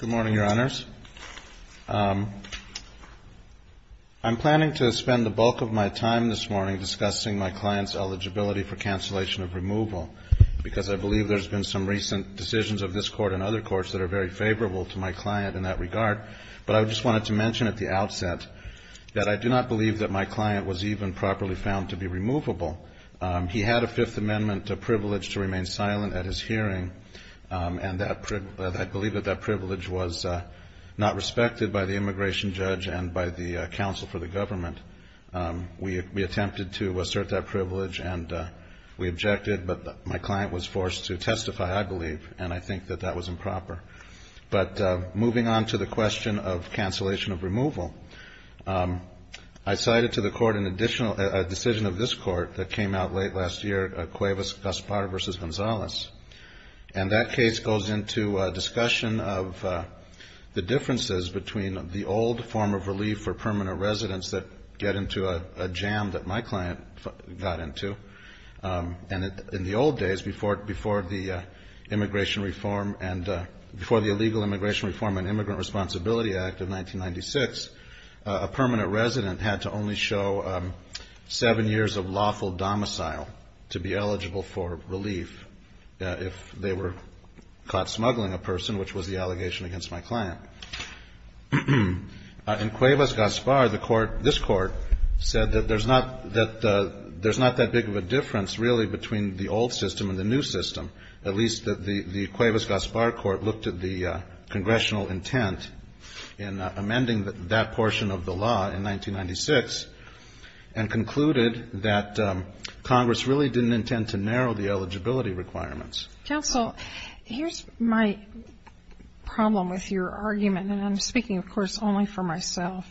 Good morning, Your Honors. I'm planning to spend the bulk of my time this morning discussing my client's eligibility for cancellation of removal, because I believe there's been some recent decisions of this Court and other courts that are very favorable to my client in that regard. But I just wanted to mention at the outset that I do not believe that my client was even properly found to be removable. He had a Fifth Amendment privilege to remain silent at his hearing, and I believe that that privilege was not respected by the immigration judge and by the counsel for the government. We attempted to assert that privilege and we objected, but my client was forced to testify, I believe, and I think that that was improper. But moving on to the question of cancellation of removal, I cited to the And that case goes into a discussion of the differences between the old form of relief for permanent residents that get into a jam that my client got into, and in the old days before the Illegal Immigration Reform and Immigrant Responsibility Act of 1996, a permanent resident had to only show seven years of lawful domicile to be eligible for relief if they were caught smuggling a person, which was the allegation against my client. In Cuevas-Gaspar, the Court, this Court, said that there's not that big of a difference really between the old system and the new system, at least the Cuevas-Gaspar Court looked at the congressional intent in amending that portion of the law in 1996 and concluded that Congress really didn't intend to narrow the eligibility requirements. Counsel, here's my problem with your argument, and I'm speaking, of course, only for myself.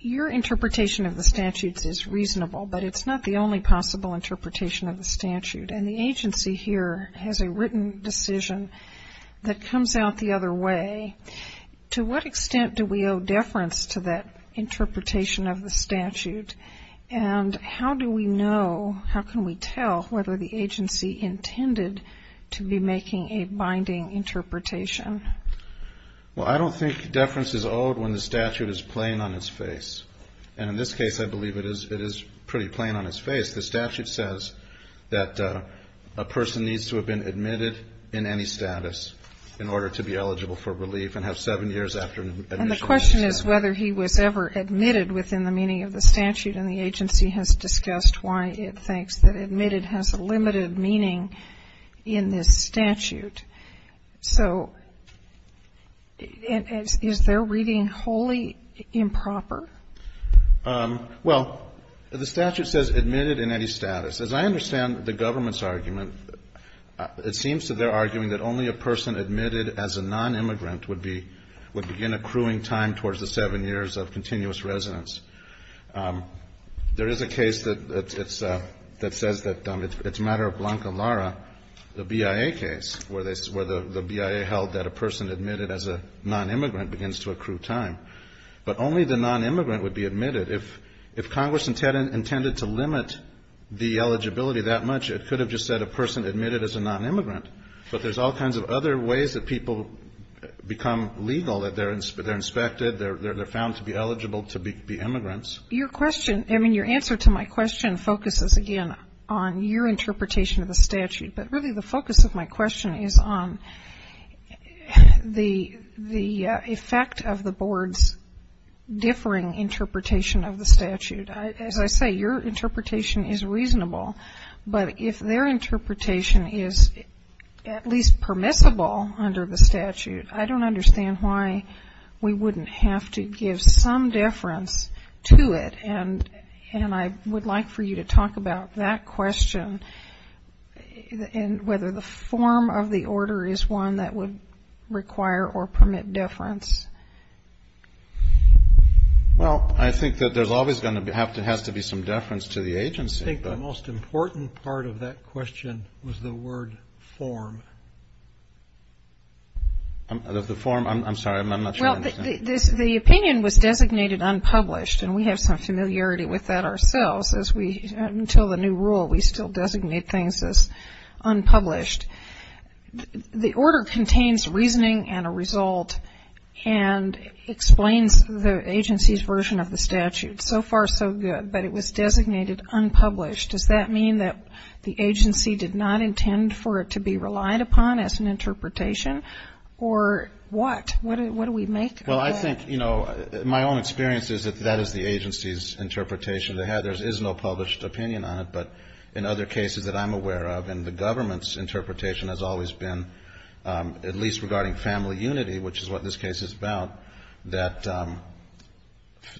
Your interpretation of the statutes is reasonable, but it's not the only possible interpretation of the statute, and the agency here has a written decision that comes out the other way. To what extent do we owe deference to that interpretation of the statute, and how do we know, how can we tell whether the agency intended to be making a binding interpretation? Well, I don't think deference is owed when the statute is plain on its face, and in this case, the statute says that a person needs to have been admitted in any status in order to be eligible for relief and have seven years after admission. And the question is whether he was ever admitted within the meaning of the statute, and the agency has discussed why it thinks that admitted has a limited meaning in this statute. So is their reading wholly improper? Well, the statute says admitted in any status. As I understand the government's argument, it seems that they're arguing that only a person admitted as a nonimmigrant would be begin accruing time towards the seven years of continuous residence. There is a case that says that it's a matter of Blanca Lara, the BIA case, where the BIA held that a person admitted as a nonimmigrant begins to accrue time. But only the nonimmigrant would be admitted. If Congress intended to limit the eligibility that much, it could have just said a person admitted as a nonimmigrant. But there's all kinds of other ways that people become legal, that they're inspected, they're found to be eligible to be immigrants. Your question, I mean, your answer to my question focuses, again, on your interpretation of the statute. But really, the focus of my question is on the effect of the board's differing interpretation of the statute. As I say, your interpretation is reasonable. But if their interpretation is at least permissible under the statute, I don't understand why we wouldn't have to give some deference to it. And I would like for you to talk about that question and whether the form of the order is one that would require or permit deference. Well, I think that there's always going to have to be some deference to the agency. I think the most important part of that question was the word form. The form, I'm sorry, I'm not sure I understand. The opinion was designated unpublished. And we have some familiarity with that ourselves as we, until the new rule, we still designate things as unpublished. The order contains reasoning and a result and explains the agency's version of the statute. So far, so good. But it was designated unpublished. Does that mean that the agency did not intend for it to be relied upon as an interpretation? Or what? What do we make of it? Well, I think, you know, my own experience is that that is the agency's interpretation. They have, there is no published opinion on it. But in other cases that I'm aware of, and the government's interpretation has always been, at least regarding family unity, which is what this case is about, that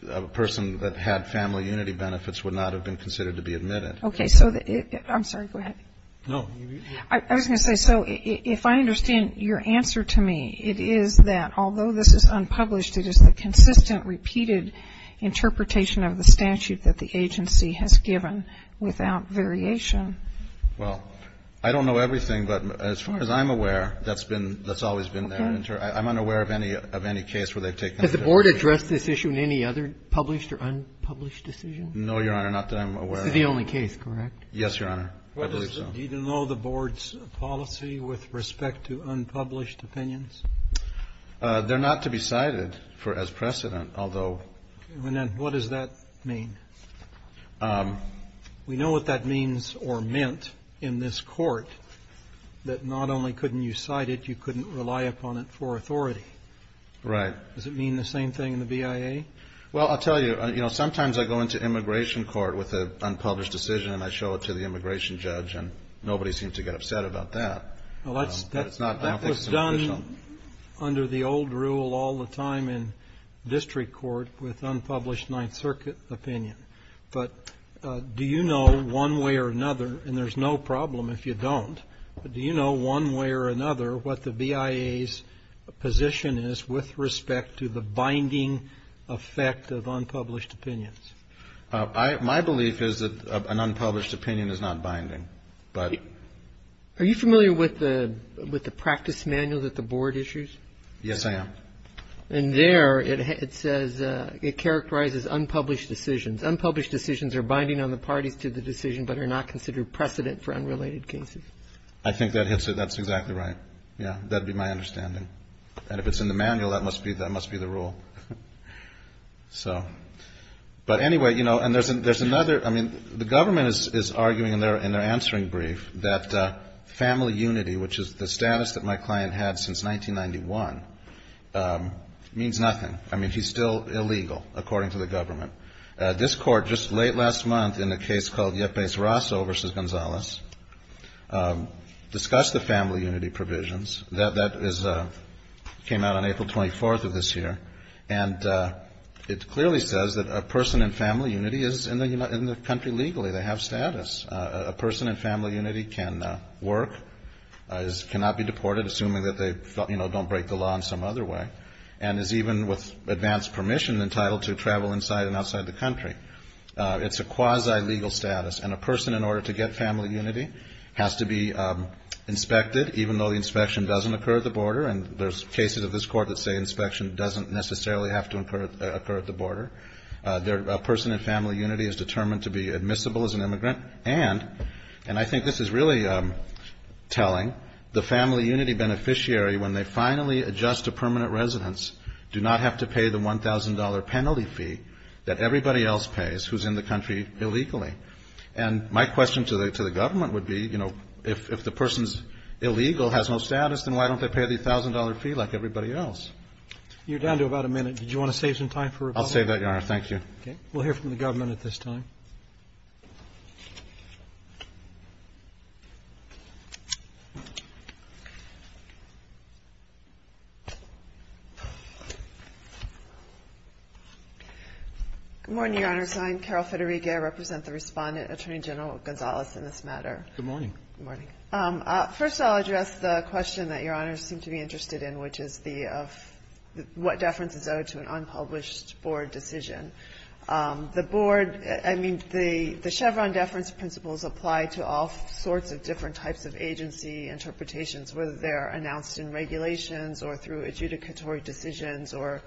a person that had family unity benefits would not have been considered to be admitted. Okay. So I'm sorry, go ahead. No. I was going to say, so if I understand your answer to me, it is that although this is unpublished, it is the consistent, repeated interpretation of the statute that the agency has given without variation. Well, I don't know everything, but as far as I'm aware, that's been, that's always been there. I'm unaware of any case where they've taken it. Has the Board addressed this issue in any other published or unpublished decision? No, Your Honor, not that I'm aware of. It's the only case, correct? Yes, Your Honor. I believe so. Does the Board know the Board's policy with respect to unpublished opinions? They're not to be cited for, as precedent, although... Okay, and then what does that mean? We know what that means or meant in this court, that not only couldn't you cite it, you couldn't rely upon it for authority. Right. Does it mean the same thing in the BIA? Well, I'll tell you, you know, sometimes I go into immigration court with an unpublished decision and I show it to the immigration judge and nobody seems to get upset about that. Well, that was done under the old rule all the time in district court with unpublished Ninth Circuit opinion. But do you know one way or another, and there's no problem if you don't, but do you know one way or another what the BIA's position is with respect to the binding effect of unpublished opinions? My belief is that an unpublished opinion is not binding. But are you familiar with the practice manual that the board issues? Yes, I am. And there it says it characterizes unpublished decisions. Unpublished decisions are binding on the parties to the decision but are not considered precedent for unrelated cases. I think that's exactly right. Yeah, that'd be my understanding. And if it's in the manual, that must be the rule. So, but anyway, you know, and there's another, I mean, the government is arguing in their answering brief that family unity, which is the status that my client had since 1991, means nothing. I mean, he's still illegal, according to the government. This court just late last month in a case called Yepes Rosso v. Gonzalez discussed the family unity provisions. That came out on April 24th of this year. And it clearly says that a person in family unity is in the country legally, they have status. A person in family unity can work, cannot be deported, assuming that they don't break the law in some other way, and is even with advanced permission entitled to travel inside and outside the country. It's a quasi-legal status. And a person, in order to get family unity, has to be inspected, even though the inspection doesn't occur at the border. And there's cases of this court that say inspection doesn't necessarily have to occur at the border. A person in family unity is determined to be admissible as an immigrant. And, and I think this is really telling, the family unity beneficiary, when they finally adjust to permanent residence, do not have to pay the $1,000 penalty fee that everybody else pays who's in the country illegally. And my question to the government would be, you know, if the person's illegal, has no $1,000 fee like everybody else. You're down to about a minute. Did you want to save some time for rebuttal? I'll save that, Your Honor. Thank you. OK. We'll hear from the government at this time. Good morning, Your Honor. I'm Carol Federiga, I represent the respondent, Attorney General Gonzalez, in this matter. Good morning. Good morning. First, I'll address the question that Your Honor seemed to be interested in, which is the, of what deference is owed to an unpublished board decision. The board, I mean, the Chevron deference principles apply to all sorts of different types of agency interpretations, whether they're announced in regulations or through adjudicatory decisions, or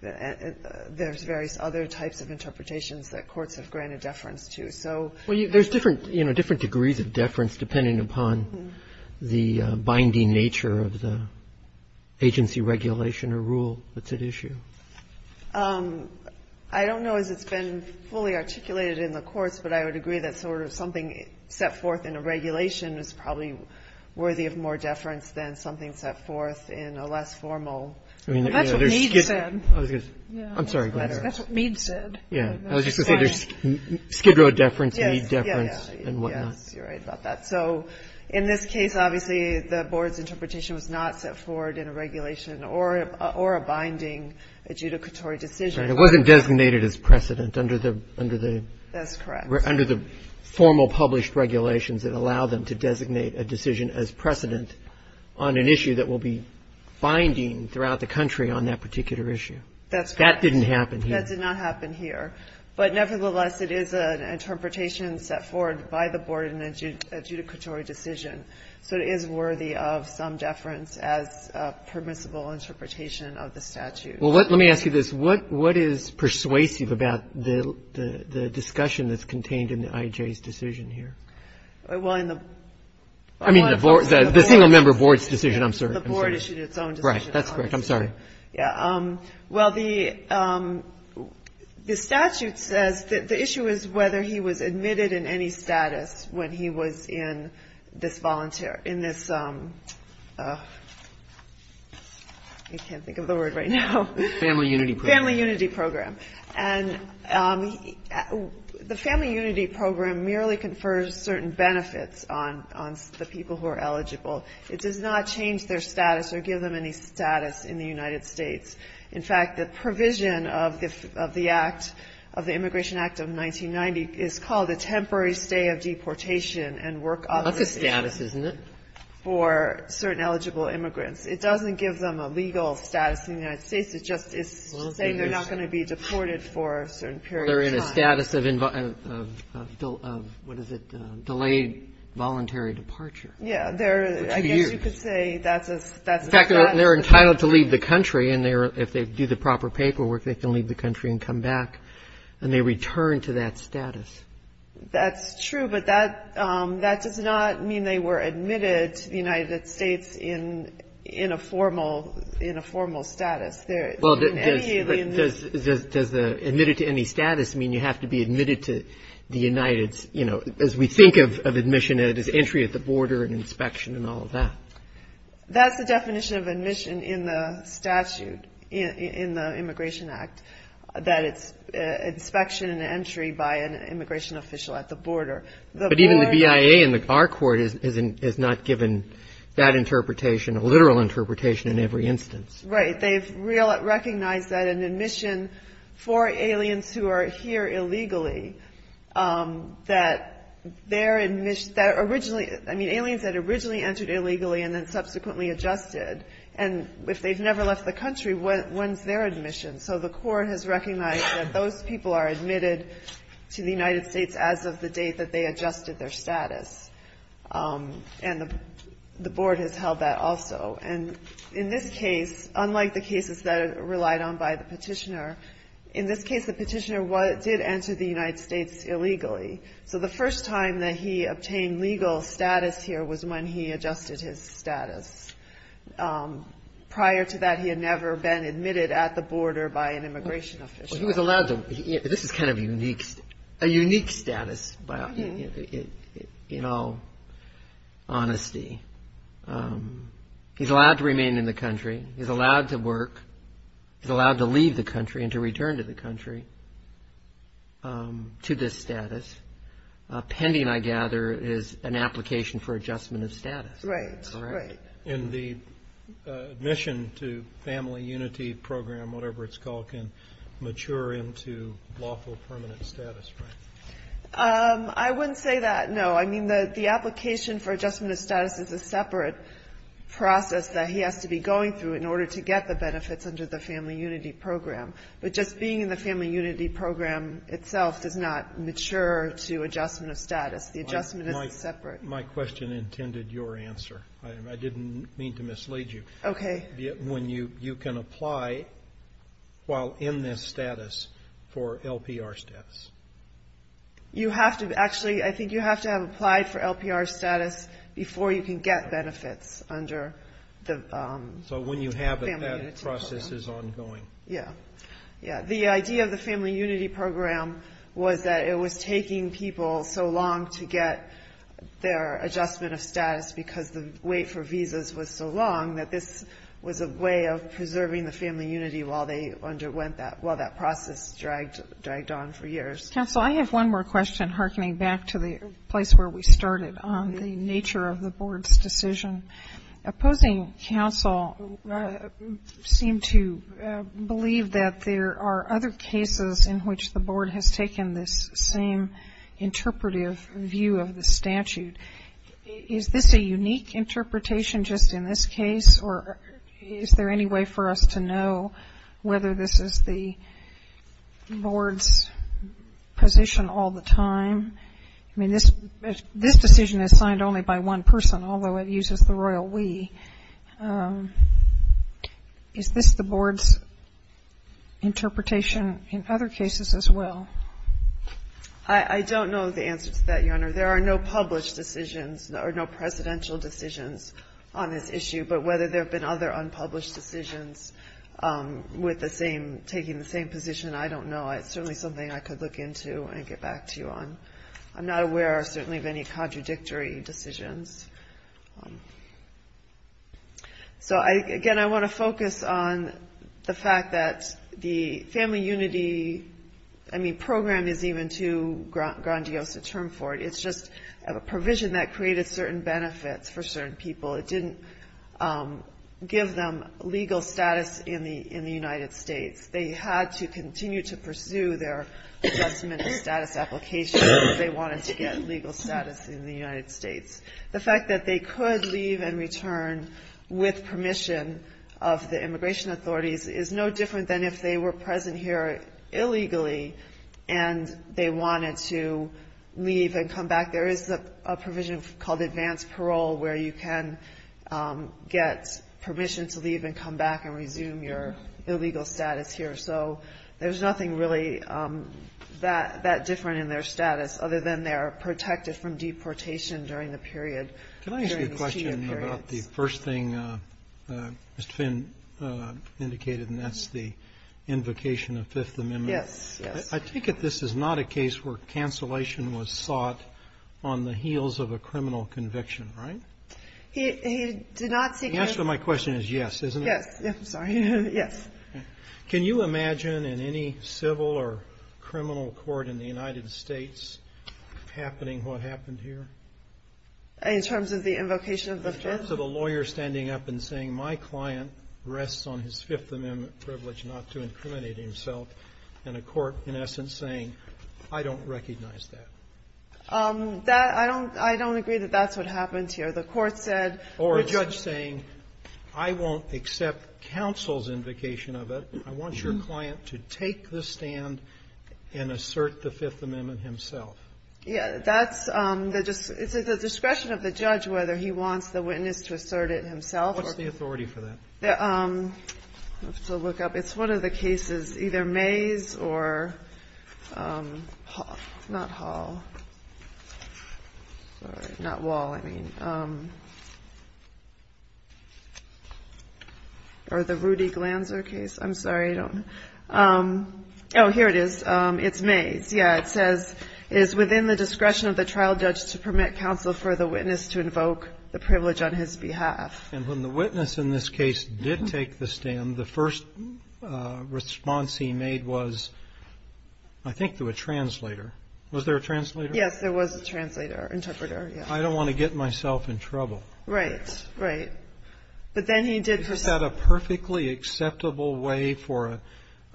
there's various other types of interpretations that courts have granted deference to. So. Well, there's different, you know, different degrees of deference, depending upon the binding nature of the agency regulation or rule that's at issue. I don't know as it's been fully articulated in the courts, but I would agree that sort of something set forth in a regulation is probably worthy of more deference than something set forth in a less formal. I mean, that's what Meade said. I'm sorry, go ahead. That's what Meade said. Yeah. I was just going to say, there's Skid Row deference, Meade deference, and whatnot. Yes, you're right about that. So in this case, obviously, the board's interpretation was not set forward in a regulation or a binding adjudicatory decision. Right. It wasn't designated as precedent under the. Under the. That's correct. Under the formal published regulations that allow them to designate a decision as precedent on an issue that will be binding throughout the country on that particular issue. That's correct. That didn't happen here. That did not happen here. But nevertheless, it is an interpretation set forward by the board in an adjudicatory decision. So it is worthy of some deference as a permissible interpretation of the statute. Well, let me ask you this. What is persuasive about the discussion that's contained in the IJ's decision here? Well, in the. I mean, the board, the single member board's decision. I'm sorry. The board issued its own decision. Right. That's correct. I'm sorry. Yeah. Well, the the statute says that the issue is whether he was admitted in any status when he was in this volunteer in this. I can't think of the word right now. Family unity, family unity program. And the family unity program merely confers certain benefits on the people who are eligible. It does not change their status or give them any status in the United States. In fact, the provision of the of the act of the Immigration Act of 1990 is called the temporary stay of deportation and work. That's a status, isn't it? For certain eligible immigrants. It doesn't give them a legal status in the United States. It just is saying they're not going to be deported for a certain period. They're in a status of what is it? Delayed voluntary departure. Yeah. They're I guess you could say that's a that's. They're entitled to leave the country and they're if they do the proper paperwork, they can leave the country and come back and they return to that status. That's true. But that that does not mean they were admitted to the United States in in a formal in a formal status there. Well, does does does the admitted to any status mean you have to be admitted to the Uniteds? You know, as we think of of admission, it is entry at the border and inspection and all of that. That's the definition of admission in the statute in the Immigration Act, that it's inspection and entry by an immigration official at the border. But even the BIA and our court is not given that interpretation, a literal interpretation in every instance. Right. They've recognized that an admission for aliens who are here illegally, that they're originally I mean, aliens that originally entered illegally and then subsequently adjusted. And if they've never left the country, when's their admission? So the court has recognized that those people are admitted to the United States as of the date that they adjusted their status. And the board has held that also. And in this case, unlike the cases that are relied on by the petitioner, in this case, the petitioner did enter the United States illegally. So the first time that he obtained legal status here was when he adjusted his status. Prior to that, he had never been admitted at the border by an immigration official. He was allowed to. This is kind of unique, a unique status in all honesty. He's allowed to remain in the country. He's allowed to work. He's allowed to leave the country and to return to the country to this status. Pending, I gather, is an application for adjustment of status. Right. And the admission to family unity program, whatever it's called, can mature into lawful permanent status. I wouldn't say that, no. I mean, the application for adjustment of status is a separate process that he has to be going through in order to get the benefits under the family unity program. But just being in the family unity program itself does not mature to adjustment of status. The adjustment is separate. My question intended your answer. I didn't mean to mislead you. OK. When you can apply while in this status for LPR status. You have to actually, I think you have to have applied for LPR status before you can get benefits under the family unity program. So when you have it, that process is ongoing. Yeah. Yeah. The idea of the family unity program was that it was taking people so long to get their adjustment of status because the wait for visas was so long that this was a way of preserving the family unity while they underwent that, while that process dragged on for years. Counsel, I have one more question hearkening back to the place where we started on the decision. Opposing counsel seem to believe that there are other cases in which the board has taken this same interpretive view of the statute. Is this a unique interpretation just in this case or is there any way for us to know whether this is the board's position all the time? I mean, this this decision is signed only by one person, although it uses the royal we. Is this the board's interpretation in other cases as well? I don't know the answer to that, Your Honor. There are no published decisions or no presidential decisions on this issue. But whether there have been other unpublished decisions with the same taking the same position, I don't know. It's certainly something I could look into and get back to you on. I'm not aware, certainly, of any contradictory decisions. So, again, I want to focus on the fact that the family unity, I mean, program is even too grandiose a term for it. It's just a provision that created certain benefits for certain people. It didn't give them legal status in the in the United States. They had to continue to pursue their status application if they wanted to get legal status in the United States. The fact that they could leave and return with permission of the immigration authorities is no different than if they were present here illegally and they wanted to leave and come back. There is a provision called advanced parole where you can get permission to leave and come back and resume your illegal status here. So there's nothing really that different in their status other than they are protected from deportation during the period. Can I ask you a question about the first thing Mr. Finn indicated, and that's the invocation of Fifth Amendment. Yes, yes. I take it this is not a case where cancellation was sought on the heels of a criminal conviction, right? He did not. The answer to my question is yes, isn't it? Yes, I'm sorry. Yes. Can you imagine in any civil or criminal court in the United States happening what happened here? In terms of the invocation of the Fifth? In terms of a lawyer standing up and saying my client rests on his Fifth Amendment privilege not to incriminate himself, and a court in essence saying I don't recognize that. That I don't I don't agree that that's what happened here. The court said or a judge saying I won't accept counsel's invocation of it. I want your client to take the stand and assert the Fifth Amendment himself. Yeah, that's the discretion of the judge, whether he wants the witness to assert it himself. What's the authority for that? Let's look up. It's one of the cases, either Mays or not Hall, not Wall. I mean, or the Rudy Glanzer case. I'm sorry. I don't know. Oh, here it is. It's Mays. Yeah, it says it is within the discretion of the trial judge to permit counsel for the witness to invoke the privilege on his behalf. And when the witness in this case did take the stand, the first response he made was I think to a translator. Was there a translator? Yes, there was a translator, interpreter. I don't want to get myself in trouble. Right, right. But then he did have a perfectly acceptable way for an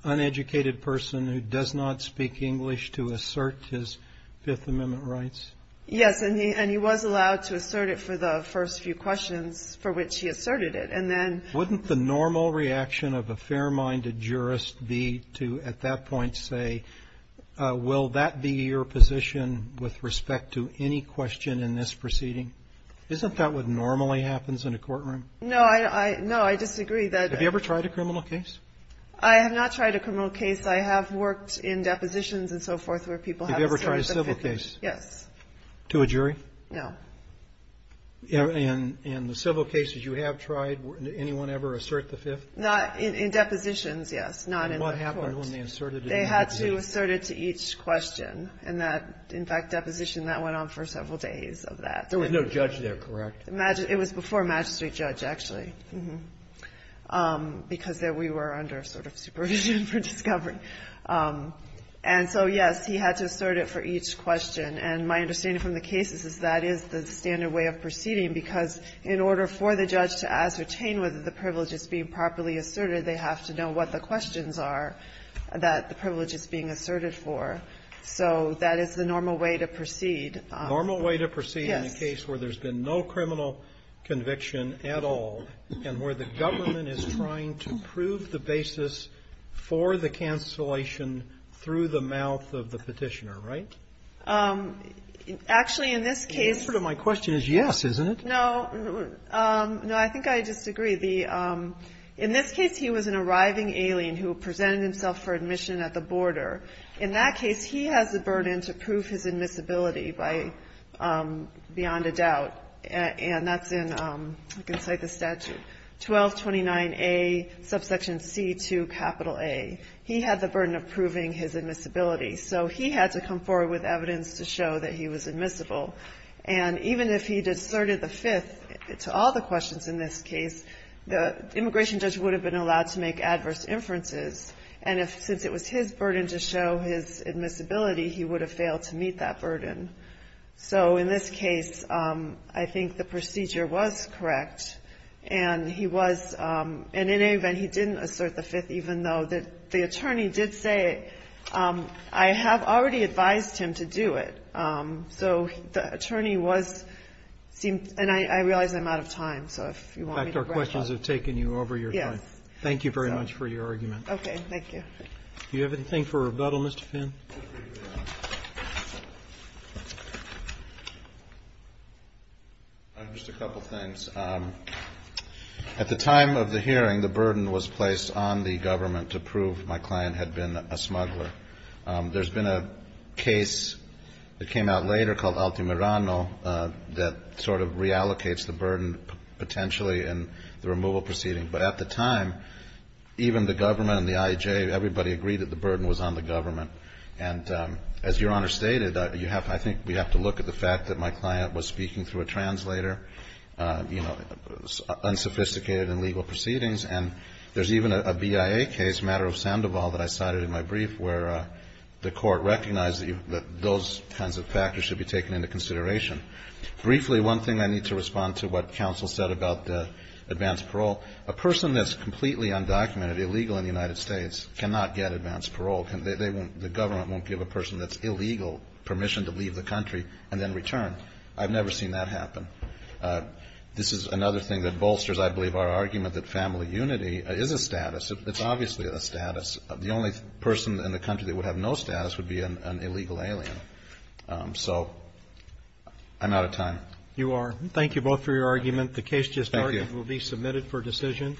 uneducated person who does not speak English to assert his Fifth Amendment rights. Yes. And he was allowed to assert it for the first few questions for which he asserted it. And then wouldn't the normal reaction of a fair minded jurist be to at that point say, will that be your position with respect to any question in this proceeding? Isn't that what normally happens in a courtroom? No, I know. I disagree that. Have you ever tried a criminal case? I have not tried a criminal case. I have worked in depositions and so forth where people have ever tried a civil case. Yes. To a jury? No. And in the civil cases you have tried, anyone ever assert the fifth? Not in depositions. Yes. Not in court. They had to assert it to each question. And that, in fact, deposition, that went on for several days of that. There was no judge there, correct? It was before a magistrate judge, actually, because we were under sort of supervision for discovery. And so, yes, he had to assert it for each question. And my understanding from the cases is that is the standard way of proceeding, because in order for the judge to ascertain whether the privilege is being properly asserted, they have to know what the questions are that the privilege is being asserted for. So that is the normal way to proceed. Normal way to proceed in a case where there's been no criminal conviction at all and where the government is trying to prove the basis for the cancellation through the mouth of the petitioner, right? Actually, in this case. The answer to my question is yes, isn't it? No. No, I think I disagree. In this case, he was an arriving alien who presented himself for admission at the border. In that case, he has the burden to prove his admissibility by beyond a doubt. And that's in, I can cite the statute, 1229A subsection C to capital A. He had the burden of proving his admissibility. So he had to come forward with evidence to show that he was admissible. And even if he deserted the fifth to all the questions in this case, the immigration judge would have been allowed to make adverse inferences. And since it was his burden to show his admissibility, he would have failed to meet that burden. So in this case, I think the procedure was correct. And he was, and in any event, he didn't assert the fifth, even though the attorney did say it. I have already advised him to do it. So the attorney was, and I realize I'm out of time. So if you want me to wrap up. In fact, our questions have taken you over your time. Thank you very much for your argument. Okay. Thank you. Do you have anything for rebuttal, Mr. Finn? Just a couple of things. At the time of the hearing, the burden was placed on the government to prove my client had been a smuggler. There's been a case that came out later called Altimirano that sort of reallocates the burden potentially in the removal proceeding. But at the time, even the government and the IJ, everybody agreed that the burden was on the government. And as Your Honor stated, you have, I think we have to look at the fact that my client was speaking through a translator, you know, unsophisticated in legal proceedings. And there's even a BIA case, a matter of Sandoval that I cited in my brief where the court recognized that those kinds of factors should be taken into consideration. Briefly, one thing I need to respond to what counsel said about the advanced parole, a person that's completely undocumented, illegal in the United States, cannot get advanced parole. Can they, they won't, the government won't give a person that's illegal permission to leave the country and then return. I've never seen that happen. This is another thing that bolsters, I believe, our argument that family unity is a status. It's obviously a status of the only person in the country that would have no status would be an illegal alien. So I'm out of time. You are. Thank you both for your argument. The case will be submitted for decision.